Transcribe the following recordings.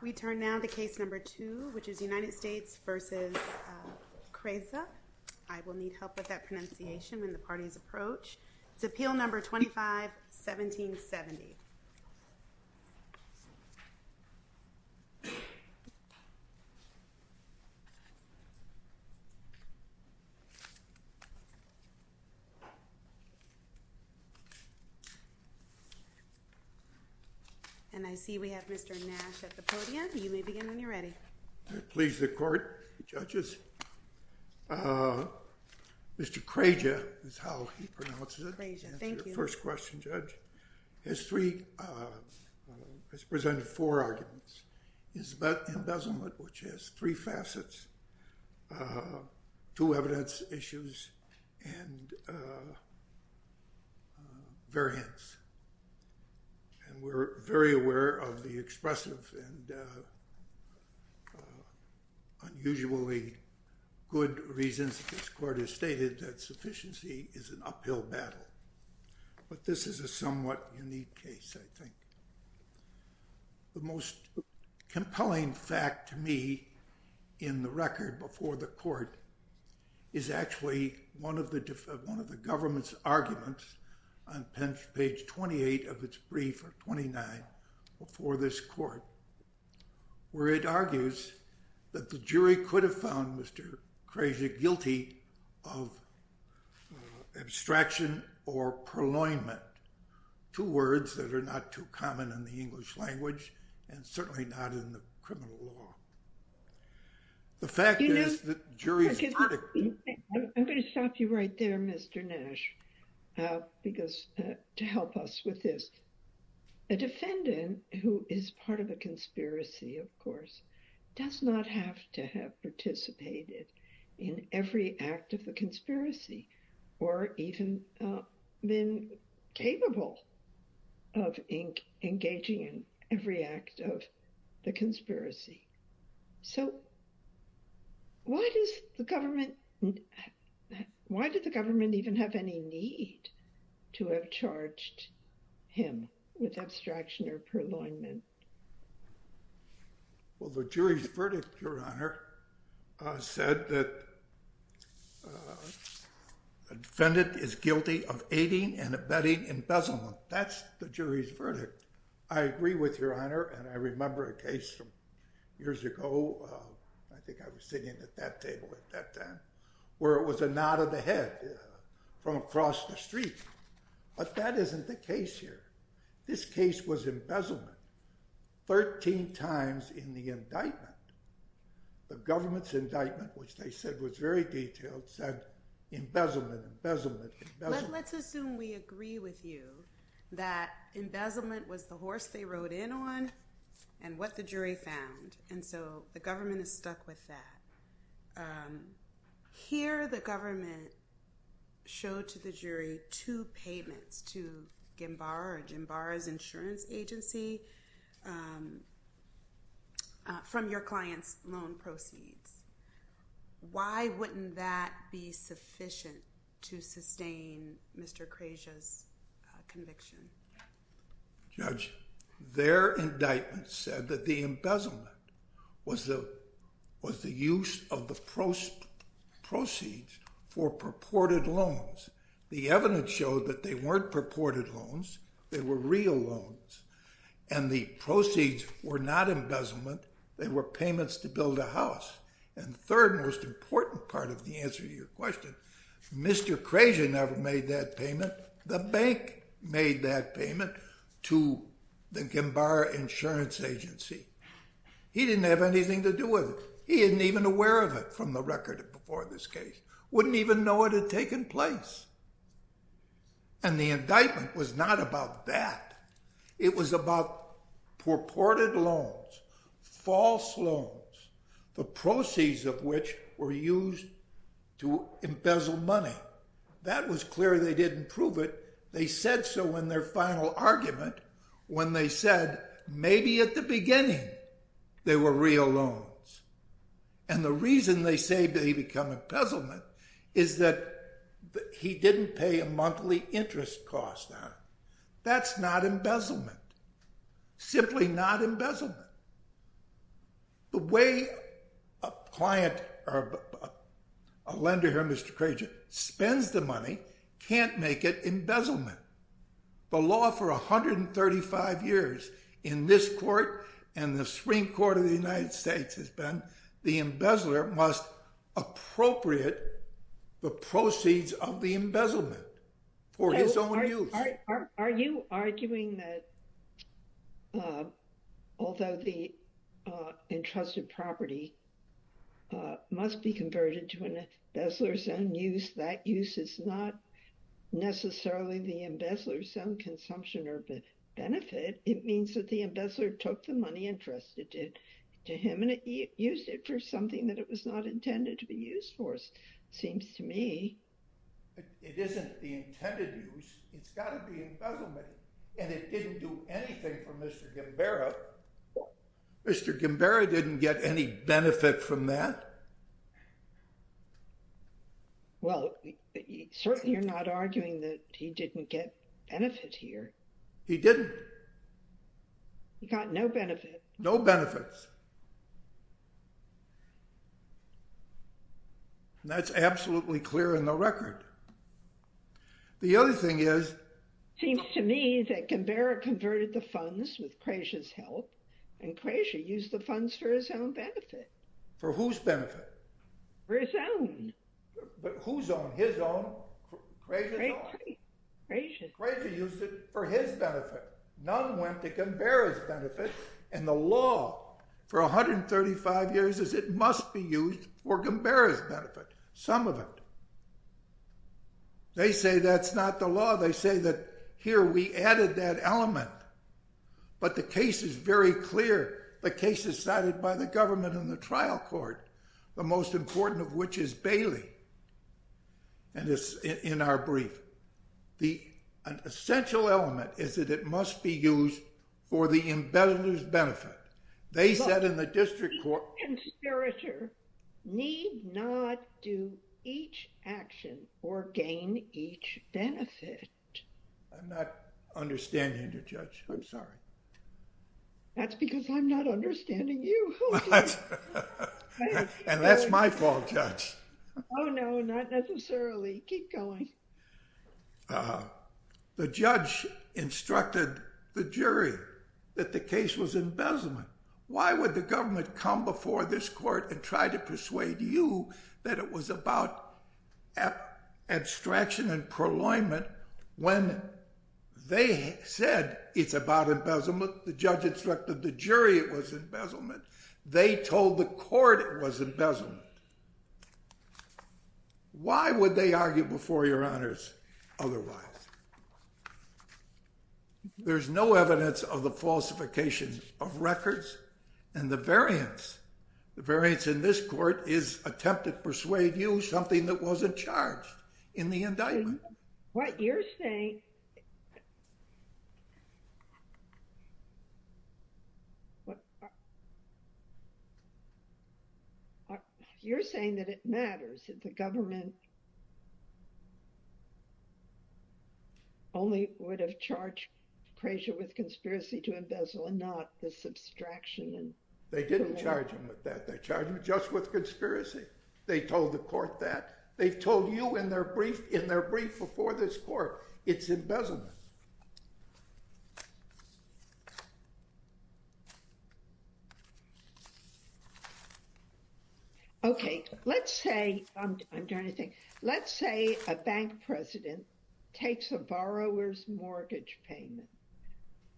We turn now to case number two which is United States v. Krejza. I will need help with that pronunciation when the parties approach. It's appeal number 25-1770. And I see we have Mr. Nash at the podium. You may begin when you're ready. Please the court, judges. Mr. Krejza is how he pronounces it. Thank you. First question, judge. Has presented four arguments. Embezzlement, which has three facets, two evidence issues, and variance. And we're very aware of the expressive and unusually good reasons this court has stated that sufficiency is an uphill battle. But this is a somewhat unique case, I think. The most compelling fact to me in the record before the court is actually one of the government's arguments on page 28 of its brief, or 29, before this court. Where it argues that the jury could have found Mr. Krejza guilty of abstraction or purloinment. Two words that are not too common in the English language and certainly not in the criminal law. The fact is that the jury... I'm going to stop you right there, Mr. Nash. Because to help us with this, a defendant who is part of a conspiracy, of course, does not have to have participated in every act of the conspiracy. Or even been capable of engaging in every act of the conspiracy. So why does the government even have any need to have charged him with abstraction or purloinment? Well, the jury's verdict, Your Honor, said that a defendant is guilty of aiding and abetting embezzlement. That's the jury's verdict. I agree with Your Honor, and I remember a case from years ago, I think I was sitting at that table at that time, where it was a nod of the head from across the street. But that isn't the case here. This case was embezzlement. Thirteen times in the indictment. The government's indictment, which they said was very detailed, said embezzlement, embezzlement, embezzlement. But let's assume we agree with you that embezzlement was the horse they rode in on and what the jury found. And so the government is stuck with that. Here, the government showed to the jury two payments to GEMBARA or GEMBARA's insurance agency from your client's loan proceeds. Why wouldn't that be sufficient to sustain Mr. Krejcia's conviction? Judge, their indictment said that the embezzlement was the use of the proceeds for purported loans. The evidence showed that they weren't purported loans. They were real loans. And the proceeds were not embezzlement. They were payments to build a house. And the third and most important part of the answer to your question, Mr. Krejcia never made that payment. The bank made that payment to the GEMBARA insurance agency. He didn't have anything to do with it. He isn't even aware of it from the record before this case. Wouldn't even know it had taken place. And the indictment was not about that. It was about purported loans, false loans, the proceeds of which were used to embezzle money. That was clear. They didn't prove it. They said so in their final argument when they said maybe at the beginning they were real loans. And the reason they say they become embezzlement is that he didn't pay a monthly interest cost. That's not embezzlement. Simply not embezzlement. The way a client or a lender here, Mr. Krejcia, spends the money can't make it embezzlement. The law for 135 years in this court and the Supreme Court of the United States has been the embezzler must appropriate the proceeds of the embezzlement for his own use. Are you arguing that although the entrusted property must be converted to an embezzler's own use, that use is not necessarily the embezzler's own consumption or benefit. It means that the embezzler took the money entrusted to him and used it for something that it was not intended to be used for, seems to me. It isn't the intended use. It's got to be embezzlement. And it didn't do anything for Mr. Gimbera. Mr. Gimbera didn't get any benefit from that. Well, certainly you're not arguing that he didn't get benefit here. He didn't. He got no benefit. No benefits. And that's absolutely clear in the record. The other thing is. Seems to me that Gimbera converted the funds with Krejcia's help and Krejcia used the funds for his own benefit. For whose benefit? For his own. But whose own? His own? Krejcia's own. Krejcia used it for his benefit. None went to Gimbera's benefit. And the law for 135 years is it must be used for Gimbera's benefit. Some of it. They say that's not the law. They say that here we added that element. But the case is very clear. The case is cited by the government and the trial court. The most important of which is Bailey. And it's in our brief. An essential element is that it must be used for the embezzler's benefit. They said in the district court. The conspirator need not do each action or gain each benefit. I'm not understanding you, Judge. I'm sorry. That's because I'm not understanding you. And that's my fault, Judge. Oh, no, not necessarily. Keep going. The judge instructed the jury that the case was embezzlement. Why would the government come before this court and try to persuade you that it was about abstraction and proloyment when they said it's about embezzlement? The judge instructed the jury it was embezzlement. They told the court it was embezzlement. Why would they argue before your honors otherwise? There's no evidence of the falsification of records and the variance. The variance in this court is attempt to persuade you something that wasn't charged in the indictment. What you're saying, you're saying that it matters that the government only would have charged Krasher with conspiracy to embezzle and not this abstraction. They didn't charge him with that. They charged him just with conspiracy. They told the court that. They've told you in their brief before this court it's embezzlement. Okay. Let's say a bank president takes a borrower's mortgage payment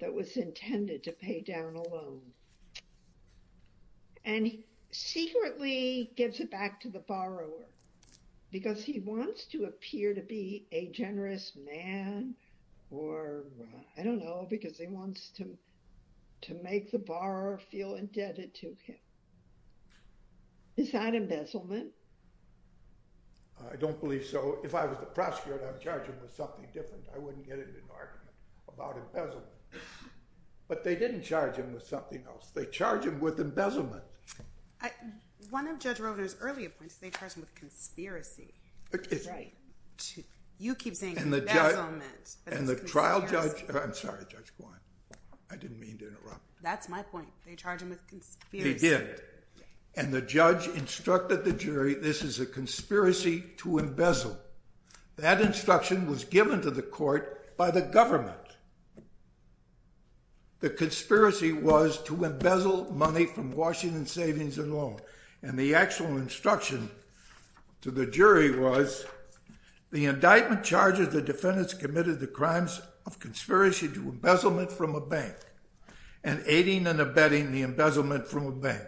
that was intended to pay down a loan and secretly gives it back to the borrower because he wants to appear to be a generous man or I don't know because he wants to make the borrower feel indebted to him. Is that embezzlement? I don't believe so. If I was the prosecutor I'd charge him with something different. I wouldn't get into an argument about embezzlement. But they didn't charge him with something else. They charged him with embezzlement. One of Judge Roeder's earlier points, they charged him with conspiracy. Right. You keep saying embezzlement. And the trial judge, I'm sorry Judge Gwine. I didn't mean to interrupt. That's my point. They charged him with conspiracy. They did. And the judge instructed the jury this is a conspiracy to embezzle. That instruction was given to the court by the government. The conspiracy was to embezzle money from Washington Savings and Loan. And the actual instruction to the jury was the indictment charges the defendants committed the crimes of conspiracy to embezzlement from a bank and aiding and abetting the embezzlement from a bank.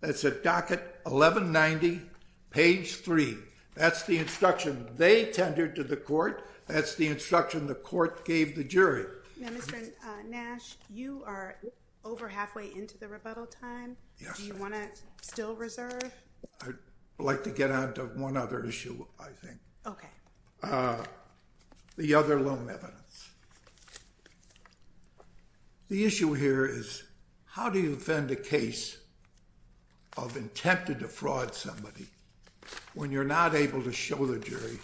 That's at docket 1190, page 3. That's the instruction they tendered to the court. That's the instruction the court gave the jury. Now, Mr. Nash, you are over halfway into the rebuttal time. Yes. Do you want to still reserve? I'd like to get on to one other issue, I think. Okay. The other loan evidence. The issue here is how do you defend a case of intent to defraud somebody when you're not able to show the jury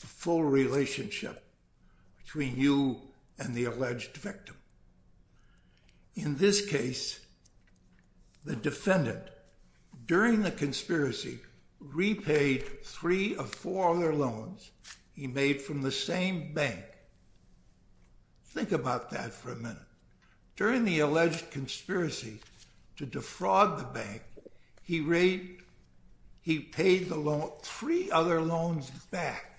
the full relationship between you and the alleged victim? In this case, the defendant, during the conspiracy, repaid three of four other loans he made from the same bank. Think about that for a minute. During the alleged conspiracy to defraud the bank, he paid three other loans back.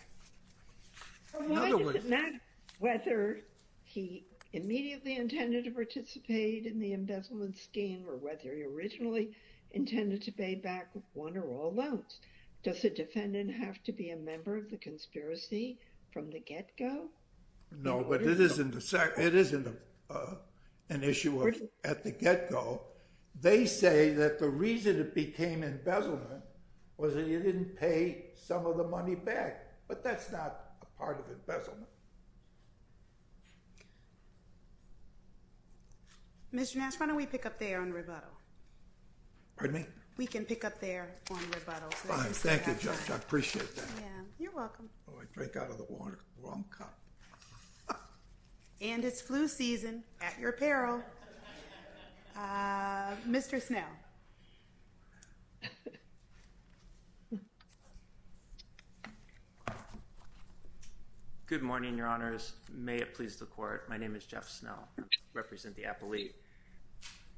Whether he immediately intended to participate in the embezzlement scheme or whether he originally intended to pay back one or all loans, does the defendant have to be a member of the conspiracy from the get-go? No, but it is an issue at the get-go. They say that the reason it became embezzlement was that you didn't pay some of the money back, but that's not a part of embezzlement. Mr. Nash, why don't we pick up there on rebuttal? Pardon me? We can pick up there on rebuttal. Fine. Thank you, Judge. I appreciate that. You're welcome. Oh, I drank out of the wrong cup. And it's flu season at your apparel. Mr. Snell. Good morning, Your Honors. May it please the Court, my name is Jeff Snell. I represent the appellate.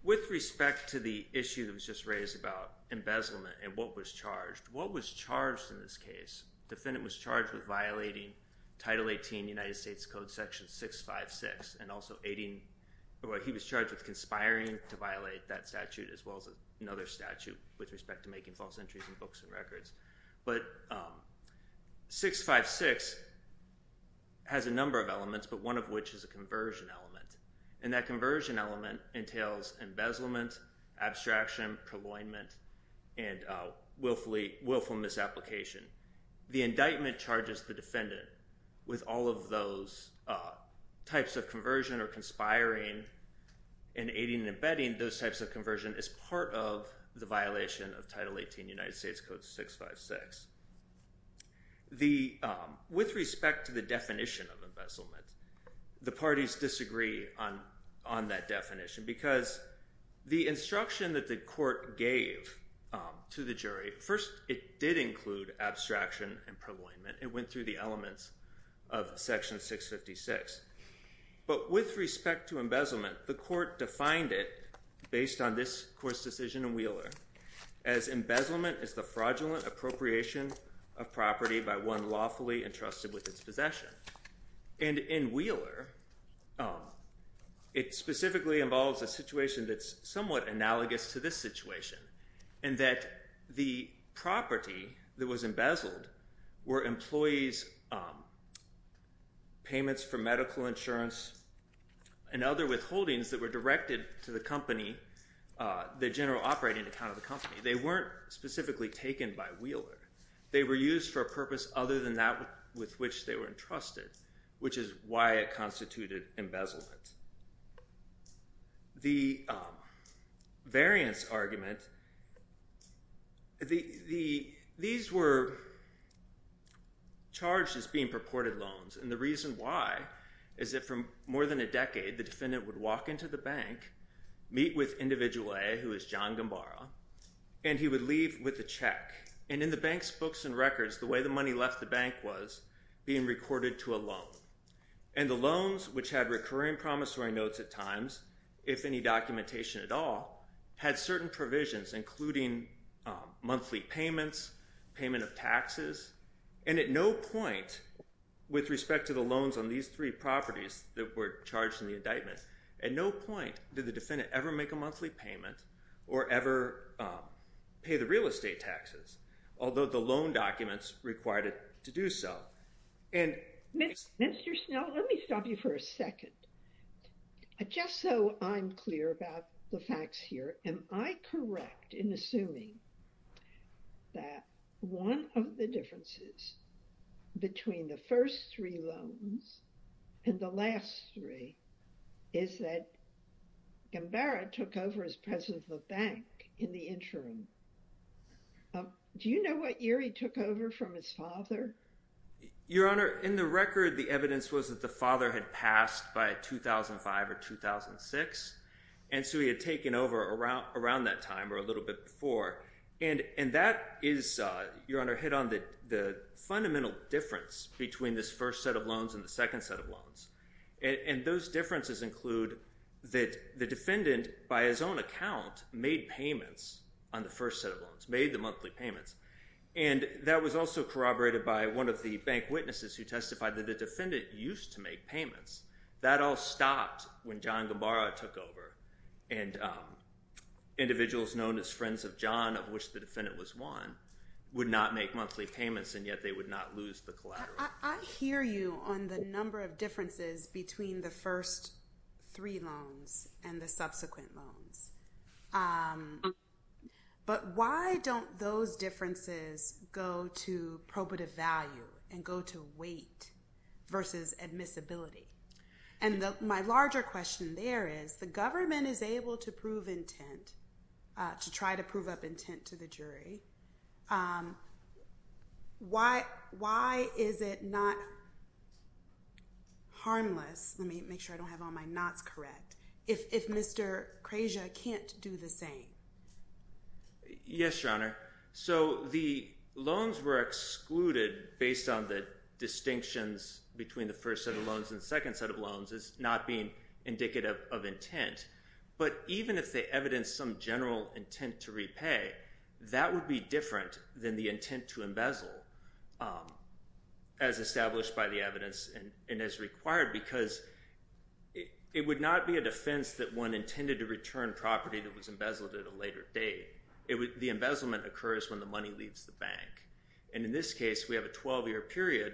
With respect to the issue that was just raised about embezzlement and what was charged, what was charged in this case? The defendant was charged with violating Title 18 United States Code Section 656 and also he was charged with conspiring to violate that statute as well as another statute with respect to making false entries in books and records. But 656 has a number of elements, but one of which is a conversion element. And that conversion element entails embezzlement, abstraction, colloidment, and willful misapplication. The indictment charges the defendant with all of those types of conversion or conspiring in aiding and abetting those types of conversion as part of the violation of Title 18 United States Code 656. With respect to the definition of embezzlement, the parties disagree on that definition because the instruction that the court gave to the jury, first it did include abstraction and colloidment. It went through the elements of Section 656. But with respect to embezzlement, the court defined it, based on this Court's decision in Wheeler, as embezzlement is the fraudulent appropriation of property by one lawfully entrusted with its possession. And in Wheeler, it specifically involves a situation that's somewhat analogous to this situation in that the property that was embezzled were employees' payments for medical insurance and other withholdings that were directed to the company, the general operating account of the company. They weren't specifically taken by Wheeler. They were used for a purpose other than that with which they were entrusted, which is why it constituted embezzlement. The variance argument, these were charged as being purported loans. And the reason why is that for more than a decade, the defendant would walk into the bank, meet with Individual A, who is John Gambara, and he would leave with a check. And in the bank's books and records, the way the money left the bank was being recorded to a loan. And the loans, which had recurring promissory notes at times, if any documentation at all, had certain provisions, including monthly payments, payment of taxes. And at no point, with respect to the loans on these three properties that were charged in the indictment, at no point did the defendant ever make a monthly payment or ever pay the real estate taxes, although the loan documents required it to do so. And Mr. Snell, let me stop you for a second. Just so I'm clear about the facts here, am I correct in assuming that one of the differences between the first three loans and the last three is that Gambara took over as president of the bank in the interim? Do you know what year he took over from his father? Your Honor, in the record, the evidence was that the father had passed by 2005 or 2006. And so he had taken over around that time or a little bit before. And that is, Your Honor, hit on the fundamental difference between this first set of loans and the second set of loans. And those differences include that the defendant, by his own account, made payments on the first set of loans, made the monthly payments. And that was also corroborated by one of the bank witnesses who testified that the defendant used to make payments. That all stopped when John Gambara took over. And individuals known as friends of John, of which the defendant was one, would not make monthly payments, and yet they would not lose the collateral. I hear you on the number of differences between the first three loans and the subsequent loans. But why don't those differences go to probative value and go to weight versus admissibility? And my larger question there is, the government is able to prove intent, to try to prove up intent to the jury. Why is it not harmless? Let me make sure I don't have all my nots correct. If Mr. Krejcia can't do the same. Yes, Your Honor. So the loans were excluded based on the distinctions between the first set of loans and the second set of loans as not being indicative of intent. But even if they evidenced some general intent to repay, that would be different than the intent to embezzle, as established by the evidence and as required, because it would not be a defense that one intended to return property that was embezzled at a later date. The embezzlement occurs when the money leaves the bank. And in this case, we have a 12-year period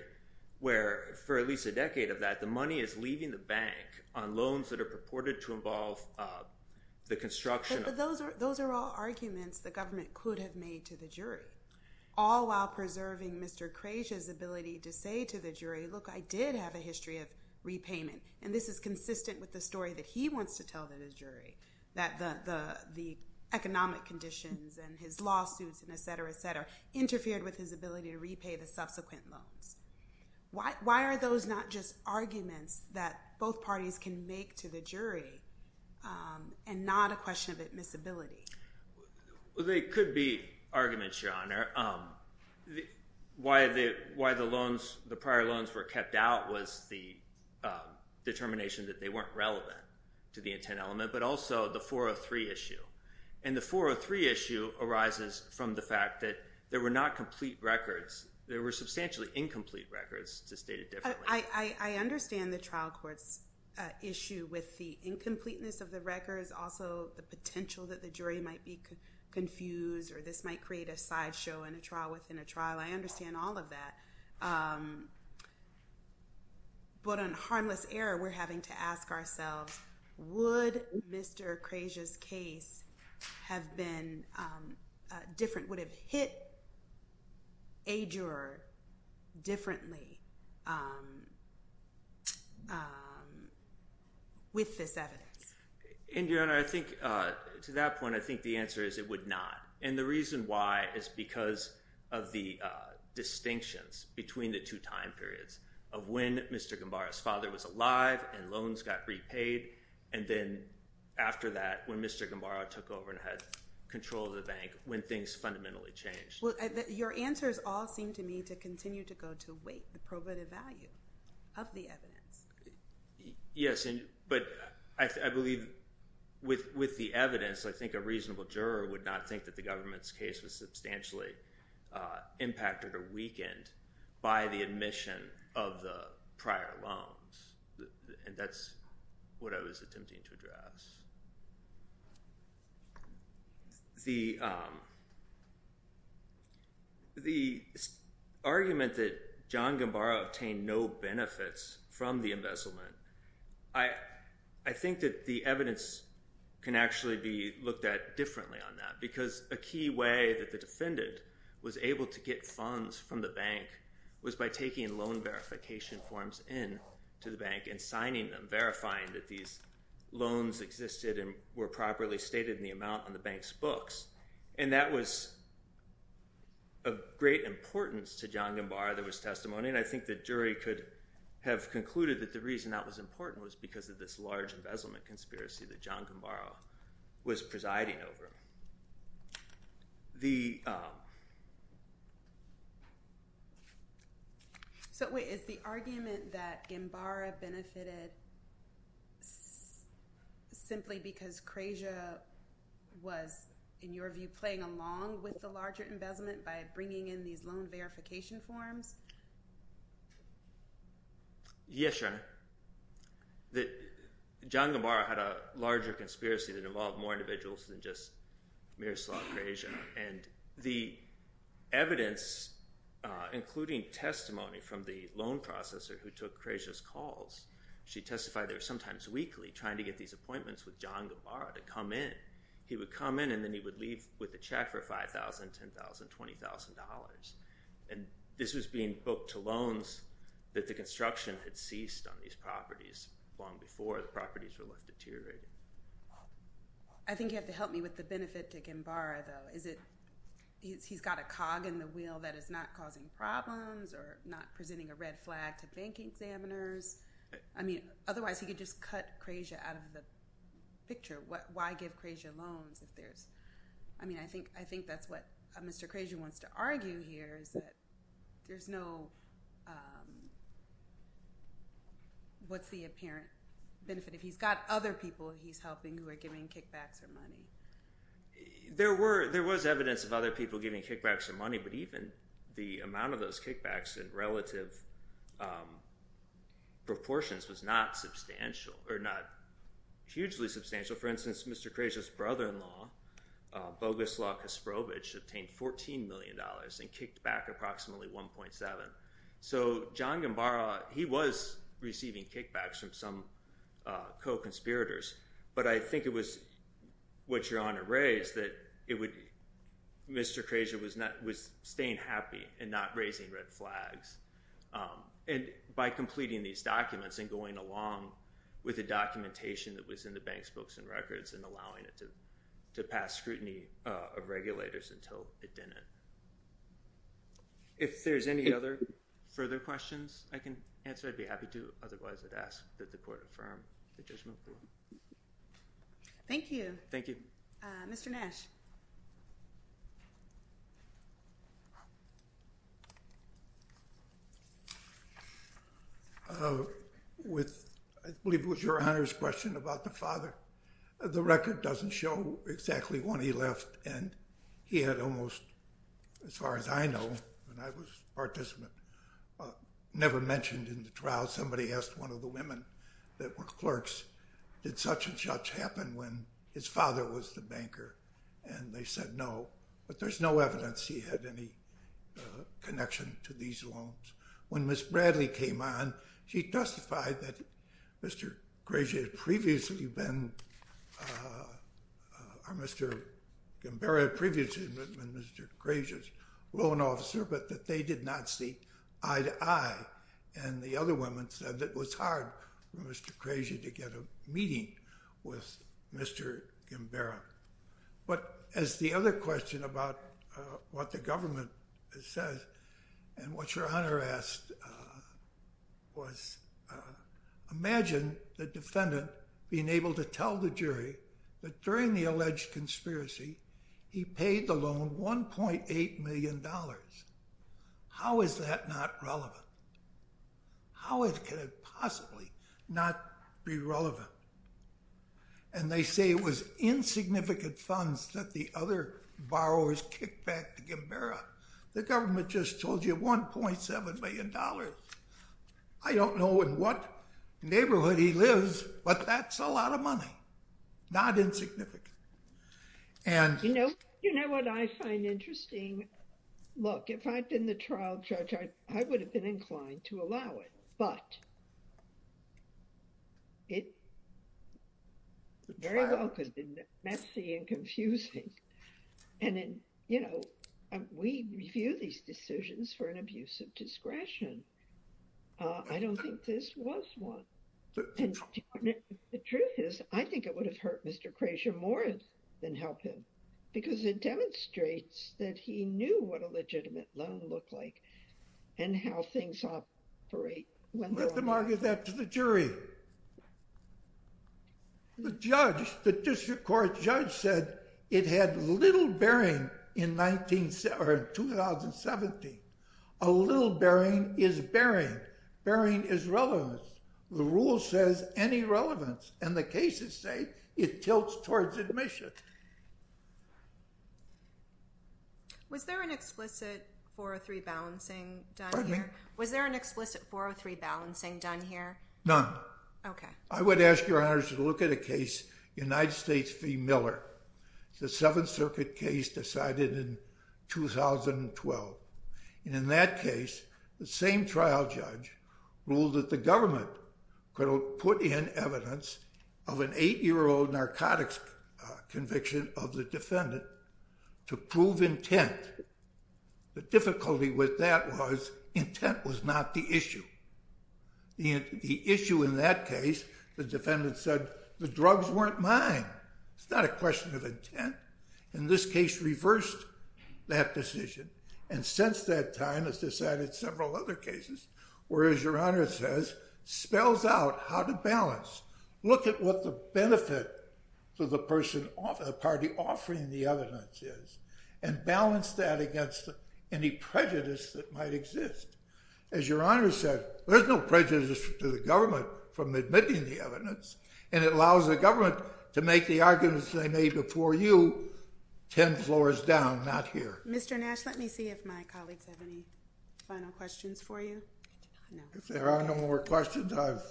where, for at least a decade of that, the money is leaving the bank on loans that are purported to involve the construction of- But those are all arguments the government could have made to the jury, all while preserving Mr. Krejcia's ability to say to the jury, look, I did have a history of repayment. And this is consistent with the story that he wants to tell the jury, that the economic conditions and his lawsuits and et cetera, et cetera, interfered with his ability to repay the subsequent loans. Why are those not just arguments that both parties can make to the jury and not a question of admissibility? Well, they could be arguments, Your Honor. Why the loans, the prior loans were kept out was the determination that they weren't relevant to the intent element, but also the 403 issue. And the 403 issue arises from the fact that there were not complete records. There were substantially incomplete records, to state it differently. I understand the trial court's issue with the incompleteness of the records, also the potential that the jury might be confused or this might create a sideshow in a trial within a trial. I understand all of that. But on harmless error, we're having to ask ourselves, would Mr. Crazier's case have been different, would have hit a juror differently with this evidence? And, Your Honor, I think to that point, I think the answer is it would not. And the reason why is because of the distinctions between the two time periods of when Mr. Gambara's father was alive and loans got repaid, and then after that, when Mr. Gambara took over and had control of the bank, when things fundamentally changed. Your answers all seem to me to continue to go to weight, the probative value of the evidence. Yes, but I believe with the evidence, I think a reasonable juror would not think that the government's case was substantially impacted or weakened by the admission of the prior loans. And that's what I was attempting to address. The argument that John Gambara obtained no benefits from the embezzlement, I think that the evidence can actually be looked at differently on that, because a key way that the defendant was able to get funds from the bank was by taking loan verification forms into the bank and signing them, verifying that these loans existed and were properly stated in the amount on the bank's books. And that was of great importance to John Gambara. There was testimony, and I think the jury could have concluded that the reason that was important was because of this large embezzlement conspiracy that John Gambara was presiding over. The – So wait, is the argument that Gambara benefited simply because Krasia was, in your view, playing along with the larger embezzlement by bringing in these loan verification forms? Yes, Your Honor. John Gambara had a larger conspiracy that involved more individuals than just Miroslav Krasia. And the evidence, including testimony from the loan processor who took Krasia's calls, she testified there sometimes weekly trying to get these appointments with John Gambara to come in. He would come in and then he would leave with a check for $5,000, $10,000, $20,000. And this was being booked to loans that the construction had ceased on these properties long before the properties were left deteriorating. I think you have to help me with the benefit to Gambara, though. Is it – he's got a cog in the wheel that is not causing problems or not presenting a red flag to bank examiners? I mean, otherwise he could just cut Krasia out of the picture. Why give Krasia loans if there's – I mean, I think that's what Mr. Krasia wants to argue here is that there's no – what's the apparent benefit? If he's got other people he's helping who are giving kickbacks or money. There was evidence of other people giving kickbacks or money, but even the amount of those kickbacks in relative proportions was not substantial or not hugely substantial. So for instance, Mr. Krasia's brother-in-law, Bogoslav Kasprovich, obtained $14 million and kicked back approximately 1.7. So John Gambara, he was receiving kickbacks from some co-conspirators, but I think it was what Your Honor raised that it would – Mr. Krasia was staying happy and not raising red flags. And by completing these documents and going along with the documentation that was in the bank's books and records and allowing it to pass scrutiny of regulators until it didn't. If there's any other further questions I can answer, I'd be happy to. Otherwise, I'd ask that the Court affirm the judgment. Thank you. Thank you. Mr. Nash. With – I believe it was Your Honor's question about the father. The record doesn't show exactly when he left, and he had almost, as far as I know, when I was a participant, never mentioned in the trial, somebody asked one of the women that were clerks, did such and such happen when his father was the banker? And they said no, but there's no evidence he had any connection to these loans. When Ms. Bradley came on, she testified that Mr. Krasia had previously been – or Mr. Gambara had previously been Mr. Krasia's loan officer, but that they did not see eye to eye. And the other women said it was hard for Mr. Krasia to get a meeting with Mr. Gambara. But as the other question about what the government says, and what Your Honor asked, was imagine the defendant being able to tell the jury that during the alleged conspiracy, he paid the loan $1.8 million. How is that not relevant? How could it possibly not be relevant? And they say it was insignificant funds that the other borrowers kicked back to Gambara. The government just told you $1.7 million. I don't know in what neighborhood he lives, but that's a lot of money. Not insignificant. You know what I find interesting? Look, if I'd been the trial judge, I would have been inclined to allow it, but it very well could have been messy and confusing. We review these decisions for an abuse of discretion. I don't think this was one. The truth is, I think it would have hurt Mr. Krasia more than help him, because it demonstrates that he knew what a legitimate loan looked like and how things operate. Let them argue that to the jury. The judge, the district court judge said it had little bearing in 2017. A little bearing is bearing. Bearing is relevance. The rule says any relevance, and the cases say it tilts towards admission. Was there an explicit 403 balancing done here? Was there an explicit 403 balancing done here? None. Okay. I would ask your honors to look at a case, United States v. Miller. It's a Seventh Circuit case decided in 2012. In that case, the same trial judge ruled that the government could have put in evidence of an eight-year-old narcotics conviction of the defendant to prove intent. The difficulty with that was intent was not the issue. The issue in that case, the defendant said the drugs weren't mine. It's not a question of intent. And this case reversed that decision. And since that time, it's decided several other cases, where, as your honors says, spells out how to balance. Look at what the benefit to the party offering the evidence is, and balance that against any prejudice that might exist. As your honors said, there's no prejudice to the government from admitting the evidence, and it allows the government to make the arguments they made before you 10 floors down, not here. Mr. Nash, let me see if my colleagues have any final questions for you. If there are no more questions, I've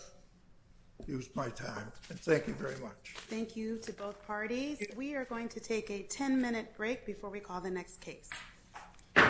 used my time. Thank you very much. Thank you to both parties. We are going to take a 10-minute break before we call the next case.